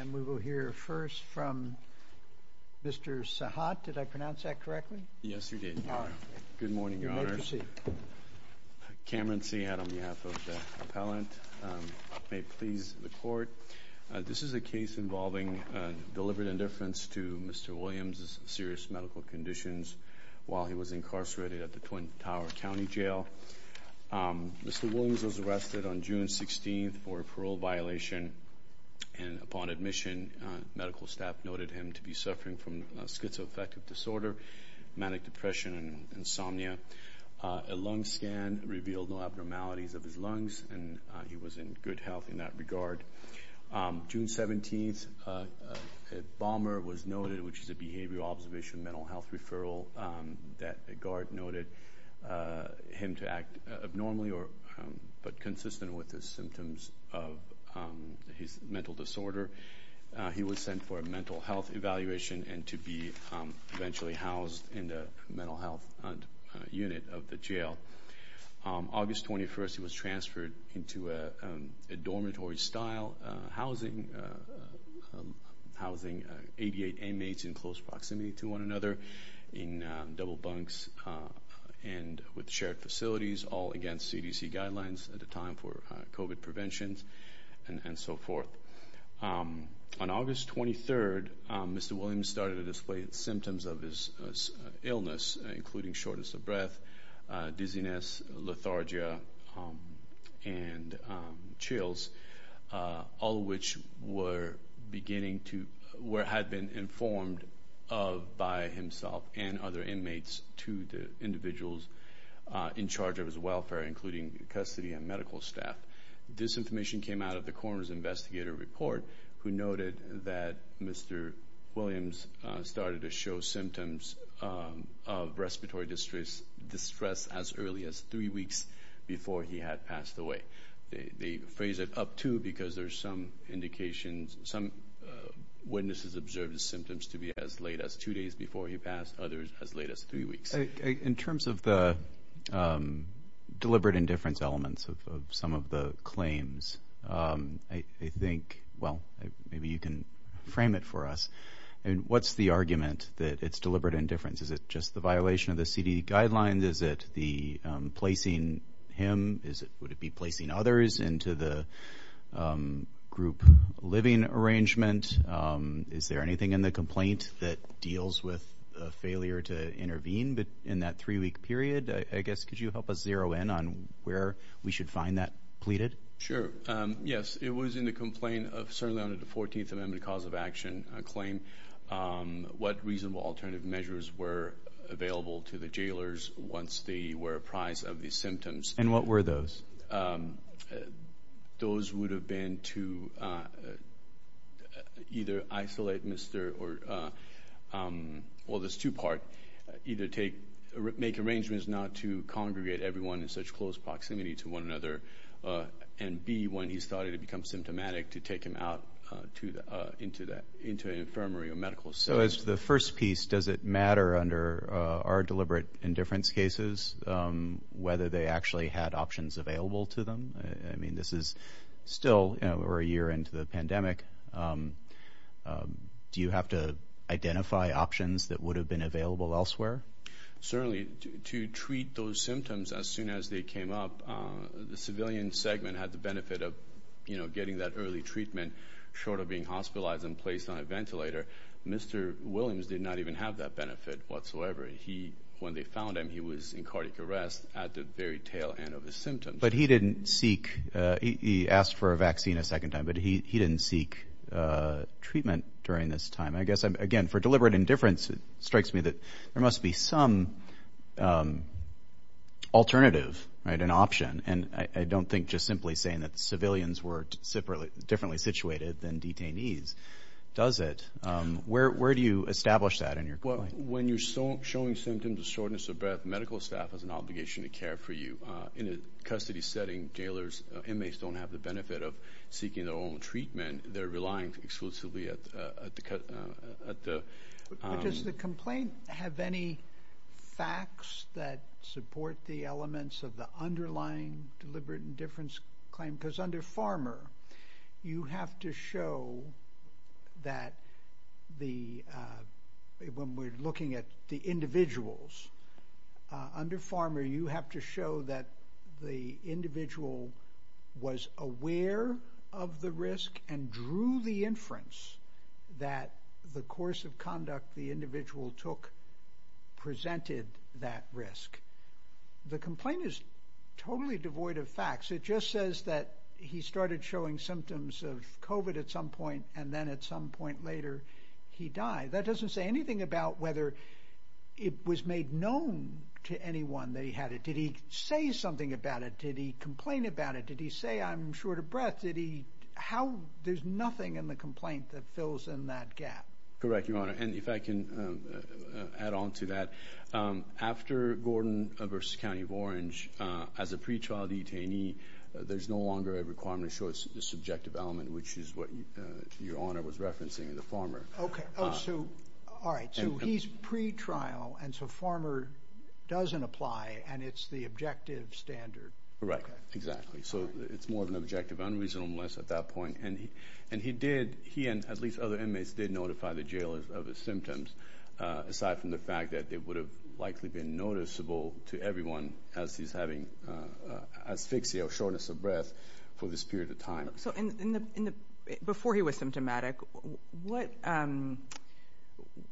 And we will hear first from Mr. Sahat. Did I pronounce that correctly? Yes, you did, Your Honor. Good morning, Your Honor. You may proceed. Cameron Seahead on behalf of the appellant. May it please the court, this is a case involving deliberate indifference to Mr. Williams's serious medical conditions while he was incarcerated at the Twin Tower County Jail. Mr. Williams was arrested on June 16th for a parole violation and upon admission, medical staff noted him to be suffering from schizoaffective disorder, manic depression and insomnia. A lung scan revealed no abnormalities of his lungs and he was in good health in that regard. June 17th, a bomber was noted, which is a behavioral observation mental health referral that the guard noted him to act abnormally but consistent with the symptoms of his mental disorder. He was sent for a mental health evaluation and to be eventually housed in the mental health unit of the jail. August 21st, he was transferred into a dormitory style housing, housing 88 inmates in close proximity to one another in double bunks and with shared facilities, all against CDC guidelines at a time for COVID preventions and so forth. On August 23rd, Mr. Williams started to display symptoms of his illness, including shortness of breath, dizziness, lethargia and chills, all of which were beginning to, or had been informed of by himself and other inmates to the individuals in charge of his welfare, including custody and medical staff. This information came out of the coroner's investigator report, who noted that Mr. Williams started to show symptoms of respiratory distress as early as three weeks before he had passed away. They phrase it up to because there's some indications, some days before he passed, others as late as three weeks. In terms of the deliberate indifference elements of some of the claims, I think, well, maybe you can frame it for us. And what's the argument that it's deliberate indifference? Is it just the violation of the CDC guidelines? Is it the placing him? Is it, would it be placing others into the group living arrangement? Is there anything in the complaint that deals with a failure to intervene in that three week period? I guess, could you help us zero in on where we should find that pleaded? Sure. Yes, it was in the complaint of certainly under the 14th Amendment cause of action claim, what reasonable alternative measures were available to the jailers once they were apprised of the symptoms. And what were those? Those would have been to either isolate Mr. Or, well, there's two part. Either take, make arrangements not to congregate everyone in such close proximity to one another. And B, when he started to become symptomatic, to take him out into an infirmary or medical center. So as to the first piece, does it matter under our deliberate indifference cases whether they actually had options available to them? I mean, this is still, you know, we're a year into the pandemic. Do you have to identify options that would have been available elsewhere? Certainly, to treat those symptoms as soon as they came up, the civilian segment had the benefit of, you know, getting that early treatment short of being hospitalized and placed on a ventilator. Mr. Williams did not even have that benefit whatsoever. He, when they found him, he was in cardiac arrest at the very tail end of the symptoms. But he didn't seek, he asked for a vaccine a second time, but he didn't seek treatment during this time. I guess, again, for deliberate indifference, it strikes me that there must be some alternative, right, an option. And I don't think just simply saying that civilians were differently situated than detainees does it. Where do you point? Well, when you're showing symptoms of shortness of breath, medical staff has an obligation to care for you. In a custody setting, jailers, inmates don't have the benefit of seeking their own treatment. They're relying exclusively at the... But does the complaint have any facts that support the elements of the underlying deliberate indifference claim? Because under Farmer, you have to show that the... When we're looking at the individuals, under Farmer, you have to show that the individual was aware of the risk and drew the inference that the course of conduct the individual took presented that risk. The complaint is totally devoid of facts. It just says that he started showing symptoms of COVID at some point and then at some point later, he died. That doesn't say anything about whether it was made known to anyone that he had it. Did he say something about it? Did he complain about it? Did he say, I'm short of breath? Did he... How... There's nothing in the complaint that fills in that gap. Correct, Your Honor. And if I can add on to that, after Gordon versus County of Orange, as a pretrial detainee, there's no longer a requirement to show the subjective element, which is what Your Honor was referencing in the Farmer. Okay. Oh, so... Alright. So he's pretrial and so Farmer doesn't apply and it's the objective standard. Correct. Exactly. So it's more of an objective unreasonableness at that point. And he did... He and at least other inmates did notify the jailers of his symptoms, aside from the fact that it would have likely been noticeable to everyone as he's having asphyxia or shortness of breath for this period of time. So in the... Before he was symptomatic, what...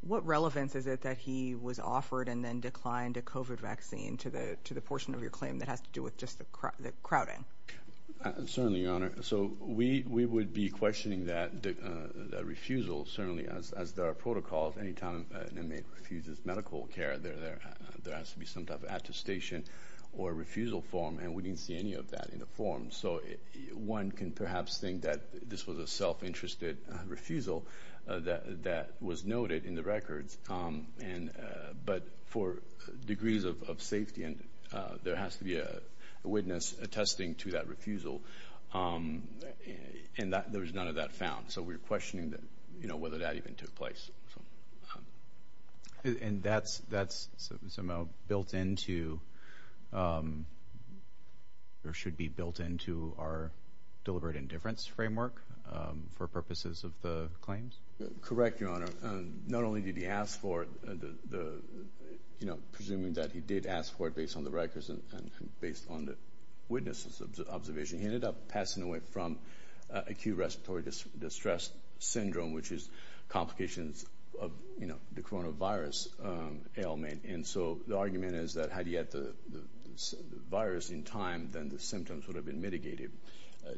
What relevance is it that he was offered and then declined a COVID vaccine to the portion of your claim that has to do with just the crowding? Certainly, Your Honor. So we would be an inmate who refuses medical care. There has to be some type of attestation or refusal form and we didn't see any of that in the form. So one can perhaps think that this was a self interested refusal that was noted in the records. But for degrees of safety, there has to be a witness attesting to that refusal. And there was none of that found. So we're questioning whether that even took place. And that's somehow built into... Or should be built into our deliberate indifference framework for purposes of the claims? Correct, Your Honor. Not only did he ask for the... Presuming that he did ask for it based on the records and based on the witnesses' observation, he ended up passing away from acute respiratory distress syndrome, which is complications of the coronavirus ailment. And so the argument is that had he had the virus in time, then the symptoms would have been mitigated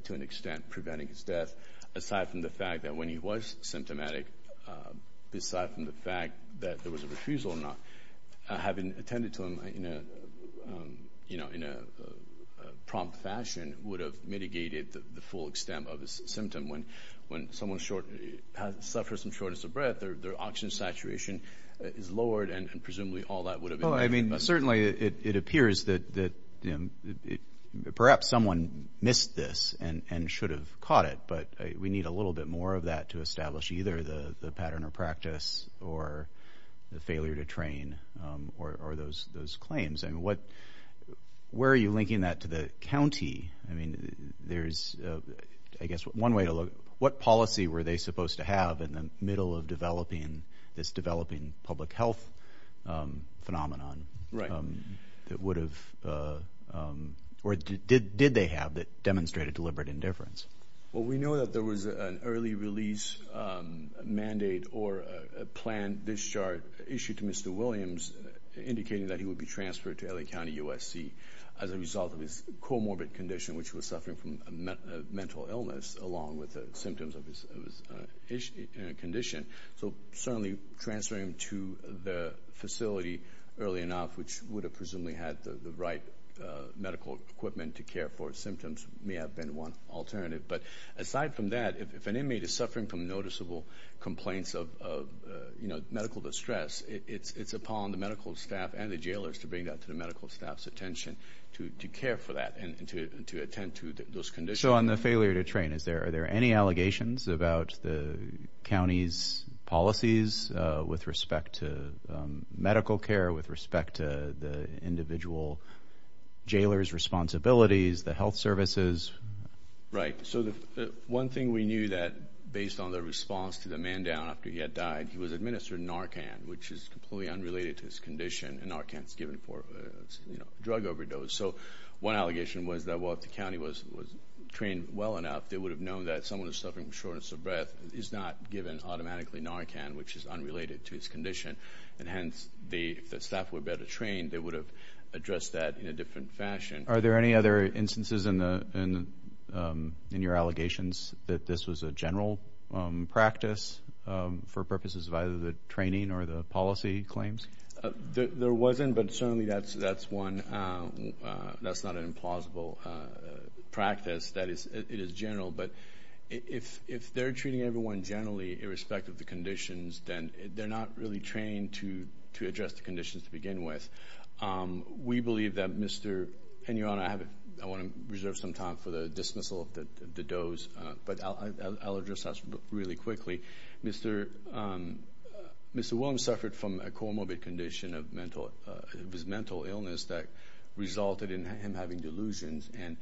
to an extent, preventing his death. Aside from the fact that when he was symptomatic, aside from the fact that there was a refusal or not, having attended to him in a prompt fashion would have mitigated the full extent of his symptom. When someone suffers from shortness of breath, their oxygen saturation is lowered, and presumably all that would have... Oh, I mean, certainly it appears that perhaps someone missed this and should have caught it. But we need a little bit more of that to establish either the pattern or practice or the failure to train or those claims. Where are you linking that to the county? I mean, there's, I guess, one way to look... What policy were they supposed to have in the middle of developing this developing public health phenomenon that would have... Or did they have that demonstrated deliberate indifference? Well, we know that there was an early release mandate or a planned discharge issued to Mr. Williams indicating that he would be transferred to LA County USC as a result of his comorbid condition, which was suffering from a mental illness along with the symptoms of his condition. So certainly transferring him to the facility early enough, which would have presumably had the right medical equipment to care for his symptoms, may have been one alternative. But aside from that, if an inmate is suffering from noticeable complaints of medical distress, it's upon the medical staff and the jailers to bring that to the medical staff's attention to care for that and to attend to those conditions. So on the failure to train, is there any allegations about the county's policies with respect to medical care, with respect to the individual jailer's responsibilities, the health services? Right. So the one thing we knew that based on the response to the man down after he had died, he was administered Narcan, which is completely unrelated to his condition, and Narcan is given for a drug overdose. So one allegation was that if the county was trained well enough, they would have known that someone who's suffering from shortness of breath is not given automatically Narcan, which is unrelated to his condition. And hence, if the staff were better trained, they would have addressed that in a different fashion. Are there any other instances in your allegations that this was a general practice for purposes of either the training or the policy claims? There wasn't, but certainly that's one. That's not an implausible practice. It is general. But if they're treating everyone generally, irrespective of the conditions, then they're not really trained to address the conditions to begin with. We believe that Mr... And Your Honor, I want to reserve some time for the dismissal of the does, but I'll address that really quickly. Mr. Williams suffered from a comorbid condition of mental... It was mental illness that resulted in him having delusions, and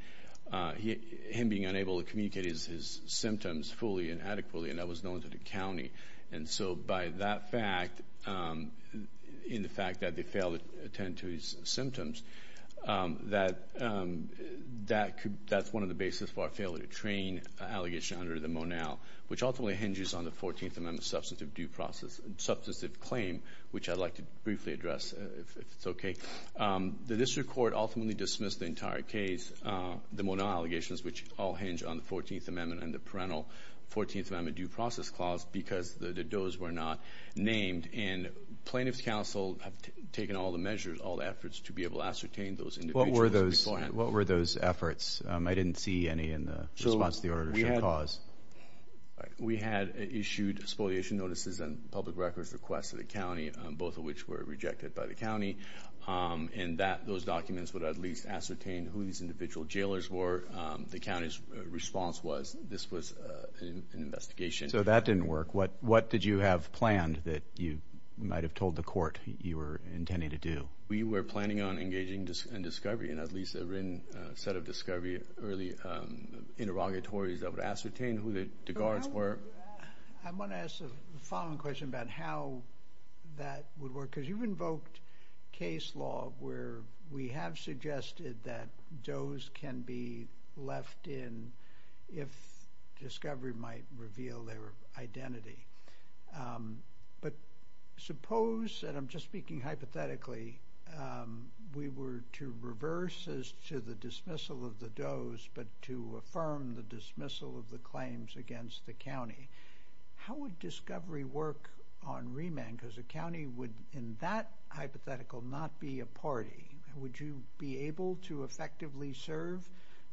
him being unable to communicate his symptoms fully and adequately, and that was known to the county. And so by that fact, in the fact that they failed to attend to his symptoms, that's one of the basis for our failure to train allegation under the substantive claim, which I'd like to briefly address, if it's okay. The district court ultimately dismissed the entire case, the modal allegations, which all hinge on the 14th Amendment and the parental 14th Amendment Due Process Clause, because the does were not named. And plaintiff's counsel have taken all the measures, all the efforts to be able to ascertain those individuals beforehand. What were those efforts? I didn't see any in the response to the order to show cause. We had issued spoliation notices and public records requests to the county, both of which were rejected by the county, and that those documents would at least ascertain who these individual jailers were. The county's response was this was an investigation. So that didn't work. What did you have planned that you might have told the court you were intending to do? We were planning on engaging in discovery, and at least a written set of discovery early interrogatories that would ascertain who the guards were. I want to ask a following question about how that would work, because you've invoked case law where we have suggested that does can be left in if discovery might reveal their identity. But suppose, and I'm just speaking hypothetically, we were to reverse as to the dismissal of the does, but to affirm the dismissal of the claims against the county. How would discovery work on remand? Because the county would, in that hypothetical, not be a party. Would you be able to effectively serve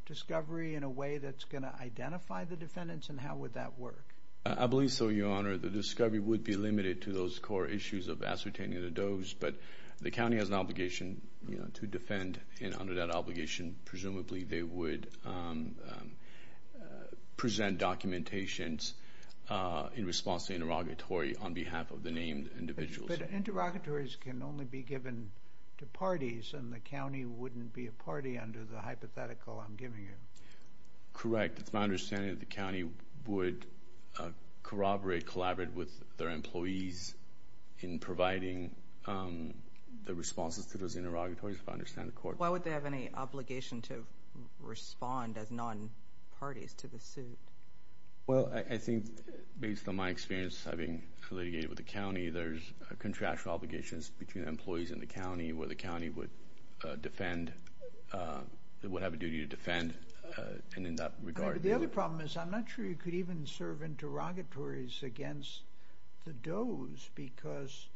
discovery in a way that's going to identify the defendants, and how would that work? I believe so, Your Honor. The discovery would be limited to those core issues of ascertaining the does, but the county has an obligation to defend, and under that obligation, presumably they would present documentations in response to the interrogatory on behalf of the named individuals. But interrogatories can only be given to parties, and the county wouldn't be a party under the hypothetical I'm giving you. Correct. It's my understanding that the county would corroborate, collaborate with their employees in providing the responses to those interrogatories, if I understand the court. Why would they have any obligation to respond as non-parties to the suit? Well, I think, based on my experience having litigated with the county, there's contractual obligations between the employees and the county, where the county would defend, would have a duty to defend, and in that regard... The other problem is, I'm not sure you could even serve interrogatories against the does, because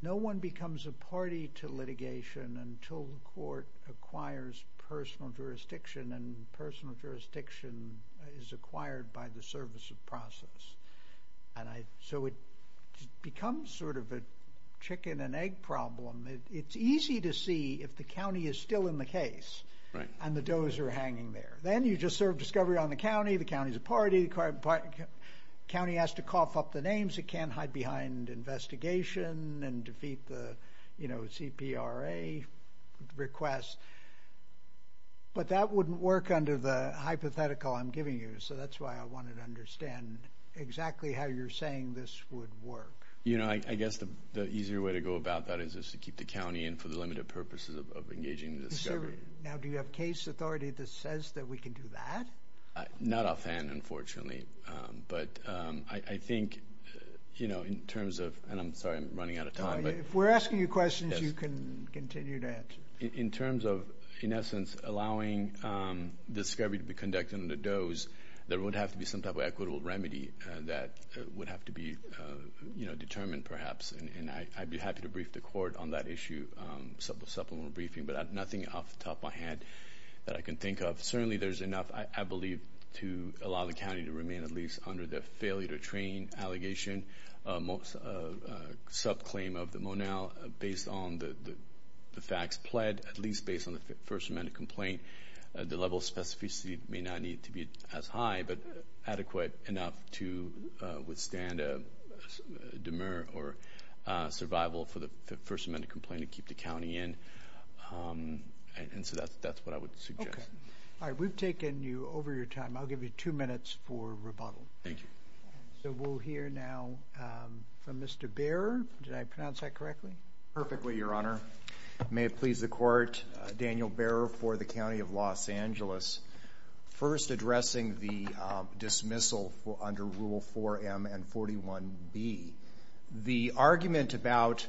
no one becomes a party to litigation until the court acquires personal jurisdiction, and personal jurisdiction is acquired by the service of process. And so it becomes sort of a chicken and egg problem. It's easy to see if the county is still in the case, and the does are hanging there. Then you just serve discovery on the county, the county is a party, the county has to cough up the names, it can't hide behind investigation and defeat the CPRA request. But that wouldn't work under the hypothetical I'm giving you, so that's why I wanted to understand exactly how you're saying this would work. I guess the easier way to go about that is just to keep the county in for the limited purposes of engaging in discovery. Now, do you have case authority that says that we can do that? Not offhand, unfortunately, but I think in terms of... And I'm sorry, I'm running out of time, but... If we're asking you questions, you can continue to answer. In terms of, in essence, allowing discovery to be conducted on the does, there would have to be some type of equitable remedy that would have to be determined, perhaps, and I'd be happy to brief the court on that issue, supplemental briefing, but nothing off the top of my head that I can believe to allow the county to remain at least under the failure to train allegation, subclaim of the Monal based on the facts pled, at least based on the First Amendment complaint. The level of specificity may not need to be as high, but adequate enough to withstand a demur or survival for the First Amendment complaint to keep the county in, and so that's what I would suggest. Okay. All right, we've taken you over your time. I'll give you two minutes for rebuttal. Thank you. So we'll hear now from Mr. Behrer. Did I pronounce that correctly? Perfectly, Your Honor. May it please the court, Daniel Behrer for the County of Los Angeles. First, addressing the dismissal under Rule 4M and 41B. The argument about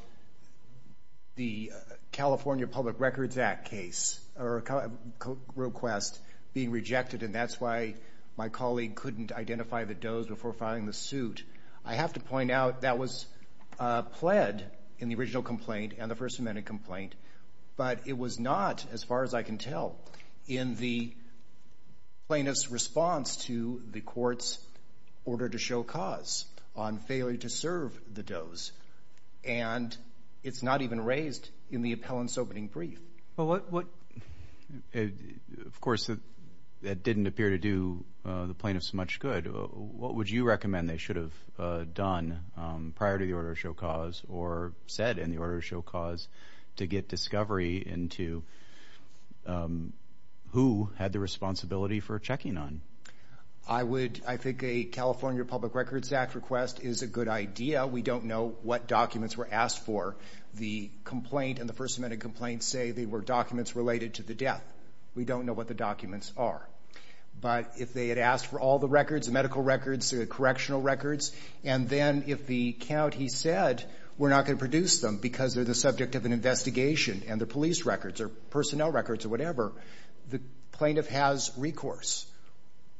the California Public Records Act case or request being rejected, and that's why my colleague couldn't identify the does before filing the suit. I have to point out that was pled in the original complaint and the First Amendment complaint, but it was not, as far as I can tell, in the plaintiff's response to the court's order to show cause on failure to serve the does, and it's not even raised in the appellant's opening brief. Of course, that didn't appear to do the plaintiff's much good. What would you recommend they should have done prior to the order to show cause or said in the order to show cause to get discovery into who had the responsibility for checking on? I think a California Public Records Act request is a good idea. We don't know what documents were asked for. The complaint and the First Amendment complaint say they were documents related to the death. We don't know what the documents are, but if they had asked for all the records, medical records, correctional records, and then if the count, he said, we're not going to produce them because they're the subject of an investigation and the police records or personnel records or whatever, the plaintiff has recourse.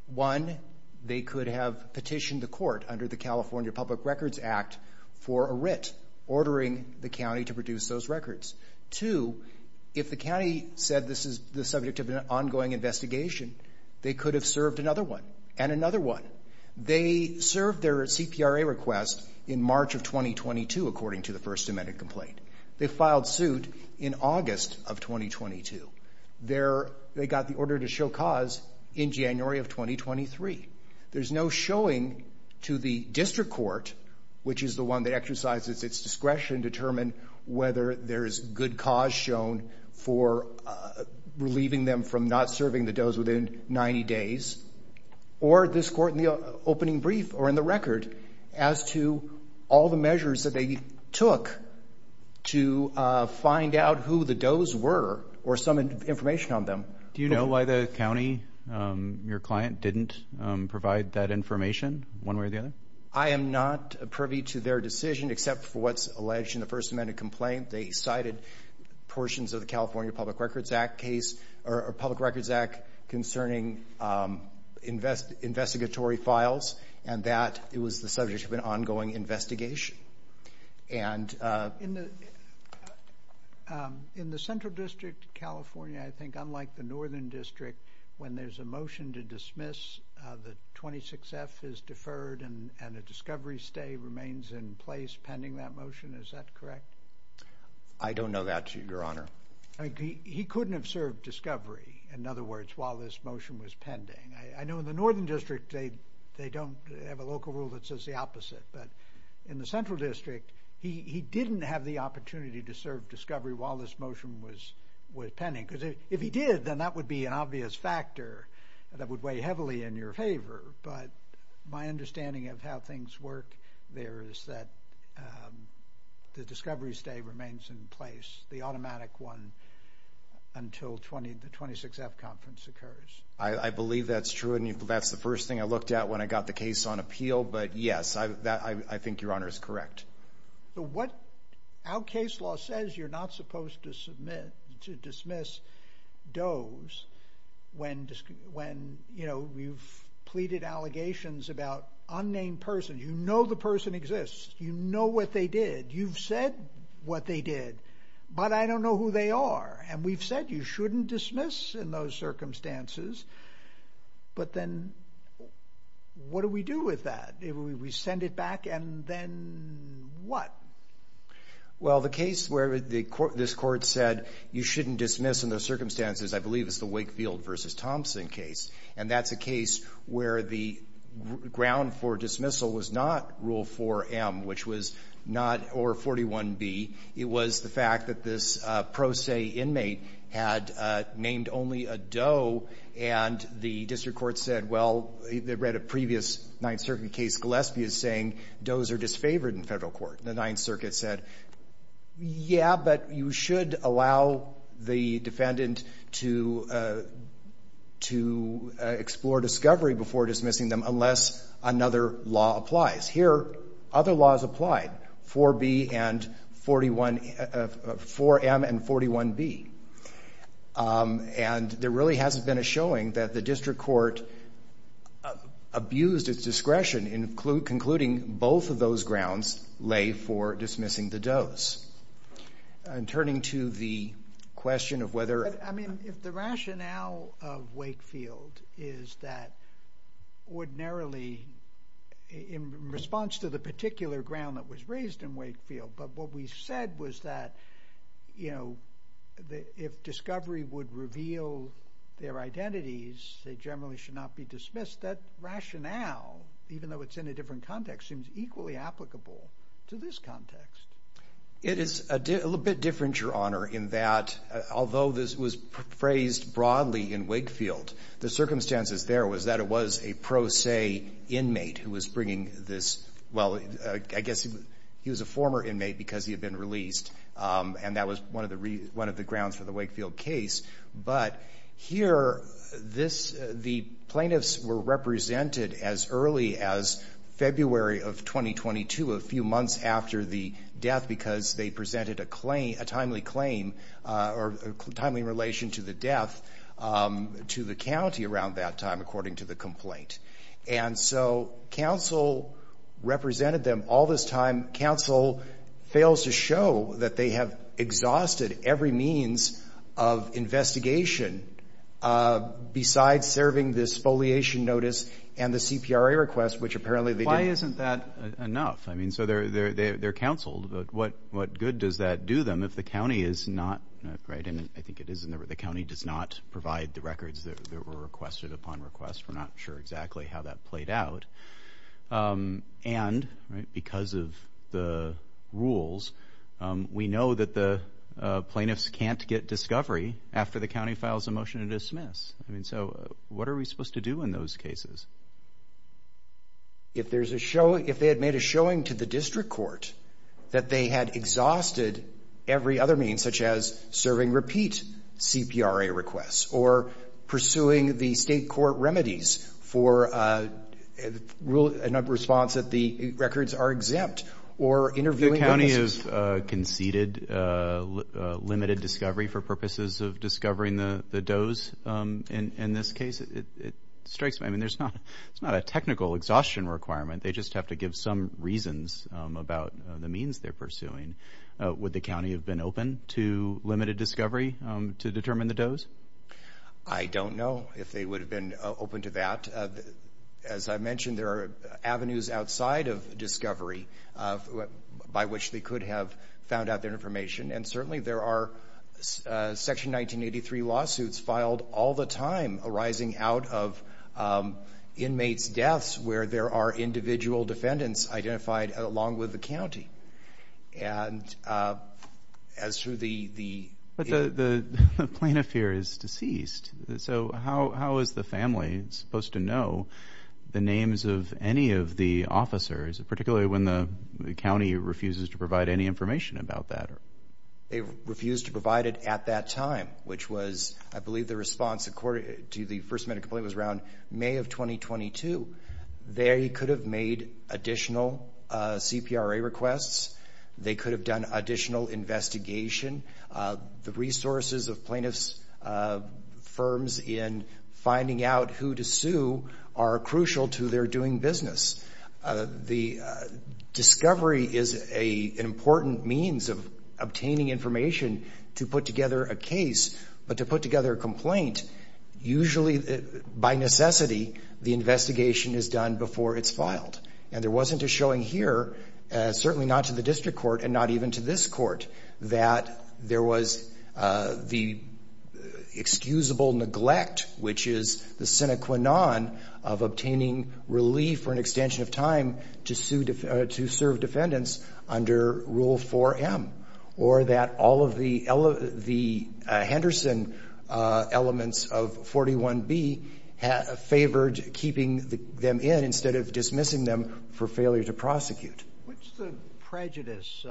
One, they could have petitioned the court under the California Public Records Act for a writ ordering the county to produce those records. Two, if the county said this is the subject of an ongoing investigation, they could have served another one and another one. They served their CPRA request in March of 2022, according to the First Amendment complaint. They filed suit in August of 2022. They got the order to show cause in January of 2023. There's no showing to the district court, which is the one that exercises its discretion to determine whether there is good cause shown for relieving them from not serving the does within 90 days or this court in the opening brief or in the record as to all the measures that they took to find out who the does were or some information on them. Do you know why the county, your client, didn't provide that information one way or the other? I am not privy to their decision except for what's alleged in the First Amendment complaint. They cited portions of the California Public Records Act case or Public Records Act concerning investigatory files and that it was the subject of an ongoing investigation. In the Central District of California, I think unlike the Northern District, when there's a motion to dismiss, the 26F is deferred and a discovery stay remains in place pending that motion. Is that correct? I don't know that, Your Honor. He couldn't have served discovery, in other words, while this motion was pending. I know in the Northern District, they don't have a local rule that says the opposite, but in the Central District, he didn't have the opportunity to serve discovery while this motion was pending. Because if he did, then that would be an obvious factor that would weigh heavily in your favor. But my understanding of how things work there is that the discovery stay remains in place, the automatic one, until the 26F conference occurs. I believe that's true. And that's the first thing I looked at when I got the case on appeal. But yes, I think Your Honor is correct. What our case law says, you're not supposed to submit, to dismiss those when, you know, you've pleaded allegations about unnamed person. You know the person exists. You know what they did. You've said what they did, but I don't know who they are. And we've said you shouldn't dismiss in those circumstances. But then, what do we do with that? We send it back, and then what? Well, the case where this court said you shouldn't dismiss in those circumstances, I believe it's the Wakefield v. Thompson case. And that's a case where the ground for dismissal was not Rule 4M, which was not, or 41B. It was the fact that this pro se inmate had named only a doe, and the district court said, well, they read a previous Ninth Circuit case, Gillespie is saying does are disfavored in federal court. The Ninth Circuit said, yeah, but you should allow the defendant to explore discovery before dismissing them, unless another law applies. Here, other laws applied, 4B and 41, 4M and 41B. And there really hasn't been a showing that the district court abused its discretion in concluding both of those grounds lay for dismissing the does. And turning to the question of whether... I mean, if the rationale of Wakefield is that ordinarily, in response to the particular ground that was raised in Wakefield, but what we said was that if discovery would reveal their identities, they generally should not be dismissed, that rationale, even though it's in a different context, seems equally applicable to this context. It is a little bit different, Your Honor, in that although this was phrased broadly in Wakefield, the circumstances there was that it was a pro se inmate who was bringing this... Well, I guess he was a former inmate because he had been released, and that was one of the grounds for the Wakefield case. But here, the plaintiffs were represented as early as February of 2022, a few months after the death, because they presented a timely claim or timely relation to the death to the county around that time, according to the complaint. And so, counsel represented them all this time. Counsel fails to show that they have exhausted every means of investigation besides serving this foliation notice and the CPRA request, which apparently they didn't. Why isn't that enough? I mean, so they're counseled, but what good does that do them if the county is not... And I think it is, and the county does not provide the records that were requested upon request. We're not sure exactly how that played out. And because of the rules, we know that the plaintiffs can't get discovery after the county files a motion to dismiss. I mean, so what are we supposed to do in those cases? If they had made a showing to the district court that they had exhausted every other means, such as serving repeat CPRA requests or pursuing the state court remedies for a response that the records are exempt or interviewing... If the county has conceded limited discovery for purposes of discovering the dose in this case, it strikes me... I mean, it's not a technical exhaustion requirement. They just have to give some reasons about the means they're pursuing. Would the county have been open to limited discovery to determine the dose? I don't know if they would have been open to that. As I mentioned, there are avenues outside of discovery by which they could have found out their information. And certainly there are Section 1983 lawsuits filed all the time arising out of inmates' deaths where there are individual defendants identified along with the county. And as to the... But the plaintiff here is deceased, so how is the family supposed to know the names of any of the officers, particularly when the county refuses to provide any information about that? They refused to provide it at that time, which was, I believe the response to the first minute complaint was around May of 2022. They could have made additional CPRA requests. They could have done additional investigation. The resources of plaintiff's firms in finding out who to sue are crucial to their doing business. The discovery is an important means of obtaining information to put together a case, but to put together a complaint, usually by necessity, the investigation is done before it's filed. And there wasn't a showing here, certainly not to the district court and not even to this court, that there was the excusable neglect, which is the sine qua non of obtaining relief or an extension of time to serve defendants under Rule 4M, or that all of the Henderson elements of 41B favored keeping them in instead of dismissing them for failure to prosecute. What's the prejudice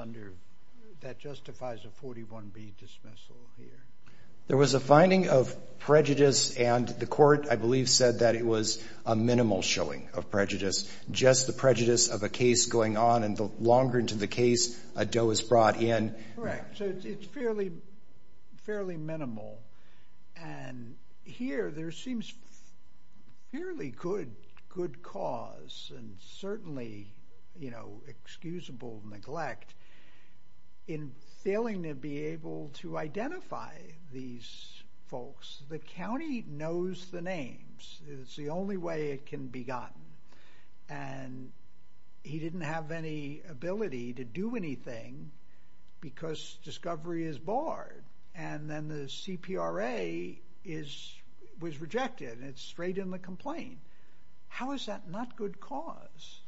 that justifies a 41B dismissal here? There was a finding of prejudice and the court, I believe, said that it was a minimal showing of prejudice, just the prejudice of a case going on. And the longer into the case, a doe is brought in. Correct. So it's fairly minimal. And here, there seems fairly good cause and certainly excusable neglect in failing to be able to identify these folks. The county knows the names. It's the only way it can be gotten. And he didn't have any ability to do anything because discovery is barred. And then the CPRA was rejected. It's straight in the complaint. How is that not good cause?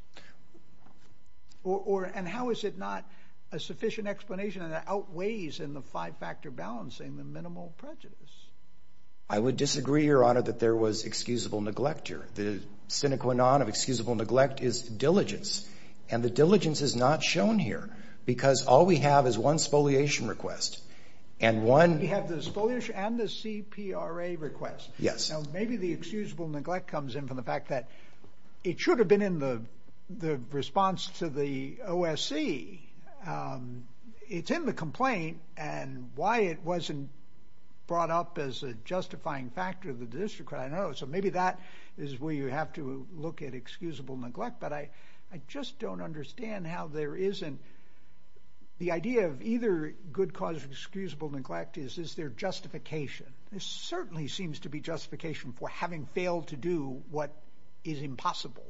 And how is it not a sufficient explanation that outweighs in the five-factor balancing the minimal prejudice? I would disagree, Your Honor, that there was excusable neglect here. The sine qua non of excusable neglect is diligence. And the diligence is not shown here because all we have is one spoliation request and one... You have the spoliation and the CPRA request. Yes. Now, maybe the excusable neglect comes in from the fact that it should have been in the response to the OSC. It's in the complaint and why it wasn't brought up as a justifying factor of the district. So maybe that is where you have to look at excusable neglect. But I just don't understand how there isn't... The idea of either good cause or excusable neglect is, is there justification? There certainly seems to be justification for having failed to do what is impossible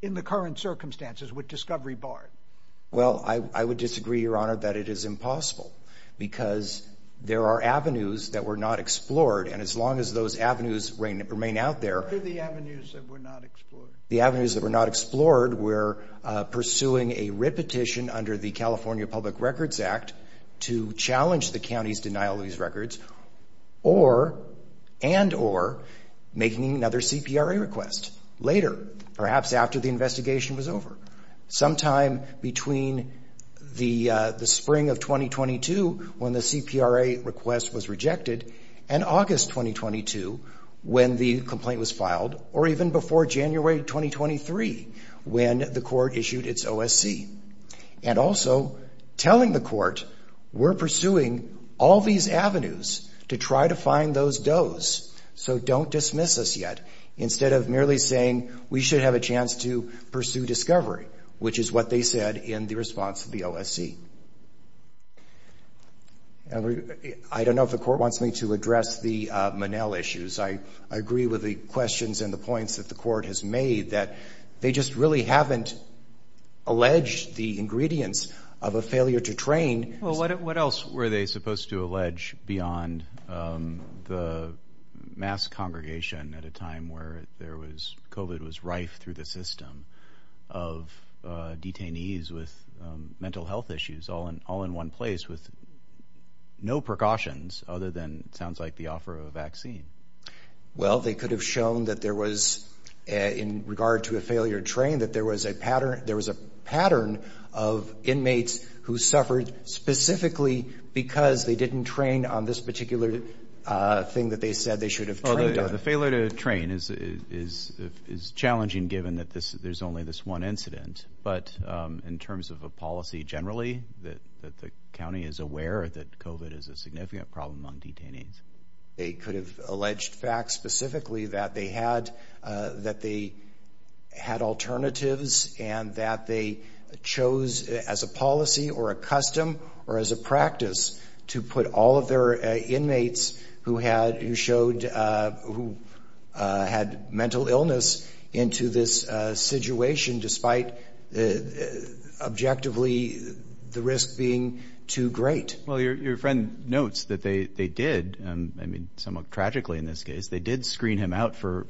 in the current circumstances with discovery barred. Well, I would disagree, Your Honor, that it is impossible because there are avenues that were not explored. And as long as those avenues remain out there... What are the avenues that were not explored? The avenues that were not explored were pursuing a repetition under the California Public Records Act to challenge the county's denial of these records and or making another CPRA request later, perhaps after the investigation was over. Sometime between the spring of 2022 when the CPRA request was rejected and August 2022 when the complaint was filed or even before January 2023 when the court issued its OSC. And also telling the court, we're pursuing all these avenues to try to find those does. So don't dismiss us yet. Instead of merely saying we should have a chance to pursue discovery, which is what they said in the response to the OSC. I don't know if the court wants me to address the Monell issues. I agree with the questions and the points that the court has made that they just really haven't alleged the ingredients of a failure to train. Well, what else were they supposed to allege beyond the mass congregation at a time where there was COVID was rife through the system of detainees with mental health issues all in all in one place with no precautions other than it sounds like the offer of a vaccine. Well, they could have shown that there was in regard to a failure to train that there was a pattern of inmates who suffered specifically because they didn't train on this particular thing that they said they should have trained on. The failure to train is challenging given that there's only this one incident. But in terms of a generally that that the county is aware that COVID is a significant problem on detainees, they could have alleged facts specifically that they had that they had alternatives and that they chose as a policy or a custom or as a practice to put all of their inmates who had who showed who had mental illness into this situation despite the objectively the risk being too great. Well, your friend notes that they did. I mean somewhat tragically in this case, they did screen him out for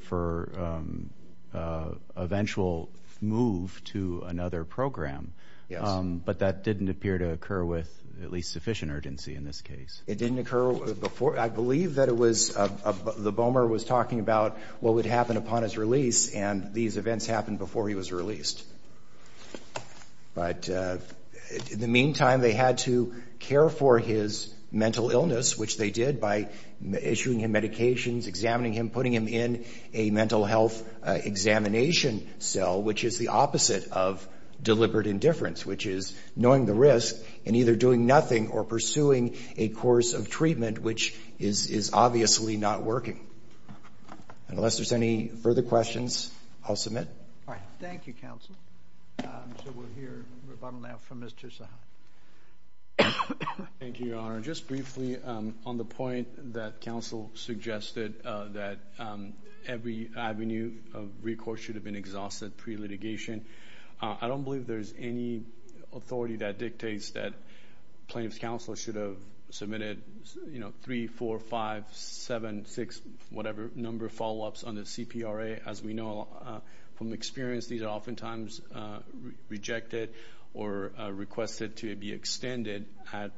eventual move to another program, but that didn't appear to occur with at least sufficient urgency in this case. It didn't occur before. I believe that it was the bomber was talking about what would happen upon his release and these events happened before he was released. But in the meantime, they had to care for his mental illness, which they did by issuing him medications, examining him, putting him in a mental health examination cell, which is the opposite of deliberate indifference, which is knowing the which is obviously not working. Unless there's any further questions, I'll submit. All right. Thank you, counsel. So we'll hear rebuttal now from Mr. Saha. Thank you, Your Honor. Just briefly on the point that counsel suggested that every avenue of recourse should have been exhausted pre-litigation. I don't believe there's any authority that dictates that plaintiff's counsel should have submitted, you know, 3, 4, 5, 7, 6, whatever number follow-ups on the CPRA. As we know from experience, these are oftentimes rejected or requested to be extended at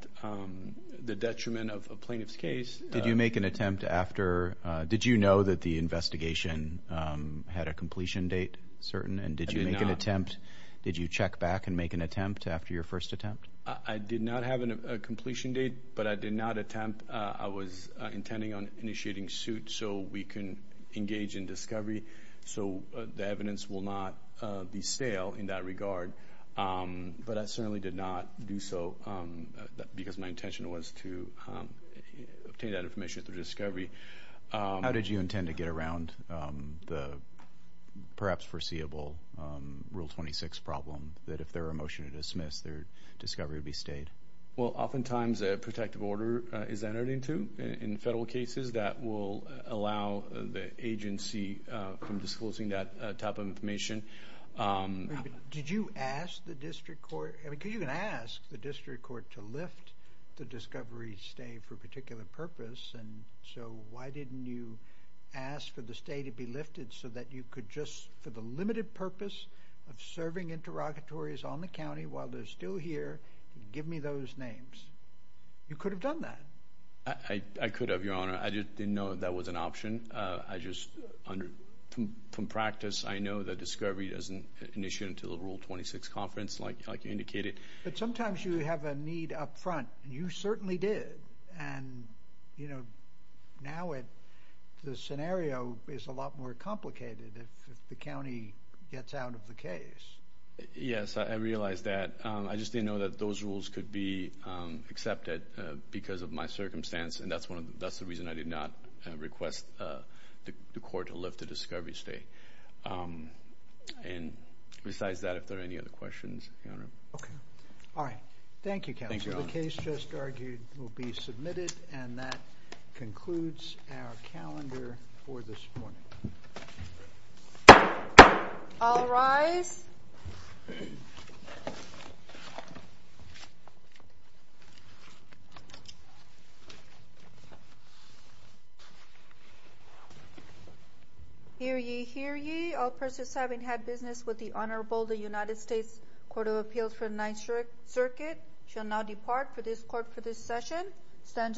the detriment of a plaintiff's case. Did you make an attempt after... Did you know that the investigation had a completion date certain and did you make an attempt... Did you check back and make an attempt after your first attempt? I did not have a completion date, but I did not attempt. I was intending on initiating suit so we can engage in discovery. So the evidence will not be stale in that regard, but I certainly did not do so because my intention was to obtain that information through discovery. How did you intend to get around the perhaps foreseeable Rule 26 problem that if there were a motion to dismiss, their discovery would be stayed? Well, oftentimes a protective order is entered into in federal cases that will allow the agency from disclosing that type of information. Did you ask the district court... I mean, could you ask the district court to lift the discovery stay for a particular purpose? And so why didn't you ask for the stay to be lifted so that you could just... For the limited purpose of serving interrogatories on the county while they're still here, give me those names. You could have done that. I could have, Your Honor. I just didn't know that was an option. I just... From practice, I know that discovery doesn't initiate until the Rule 26 conference, like you indicated. But sometimes you have a need up front, and you certainly did. And now the scenario is a lot more complicated if the county gets out of the case. Yes, I realize that. I just didn't know that those rules could be accepted because of my circumstance, and that's the reason I did not request the court to lift the discovery stay. And besides that, if there are any other questions, Your Honor. Okay. All right. Thank you, Counselor. Thank you, Your Honor. The case just argued will be submitted, and that concludes our calendar for this morning. All rise. Hear ye, hear ye. All persons having had business with the Honorable, the United States Court of Appeals for the Ninth Circuit shall now depart for this court for this session. Session stands adjourned.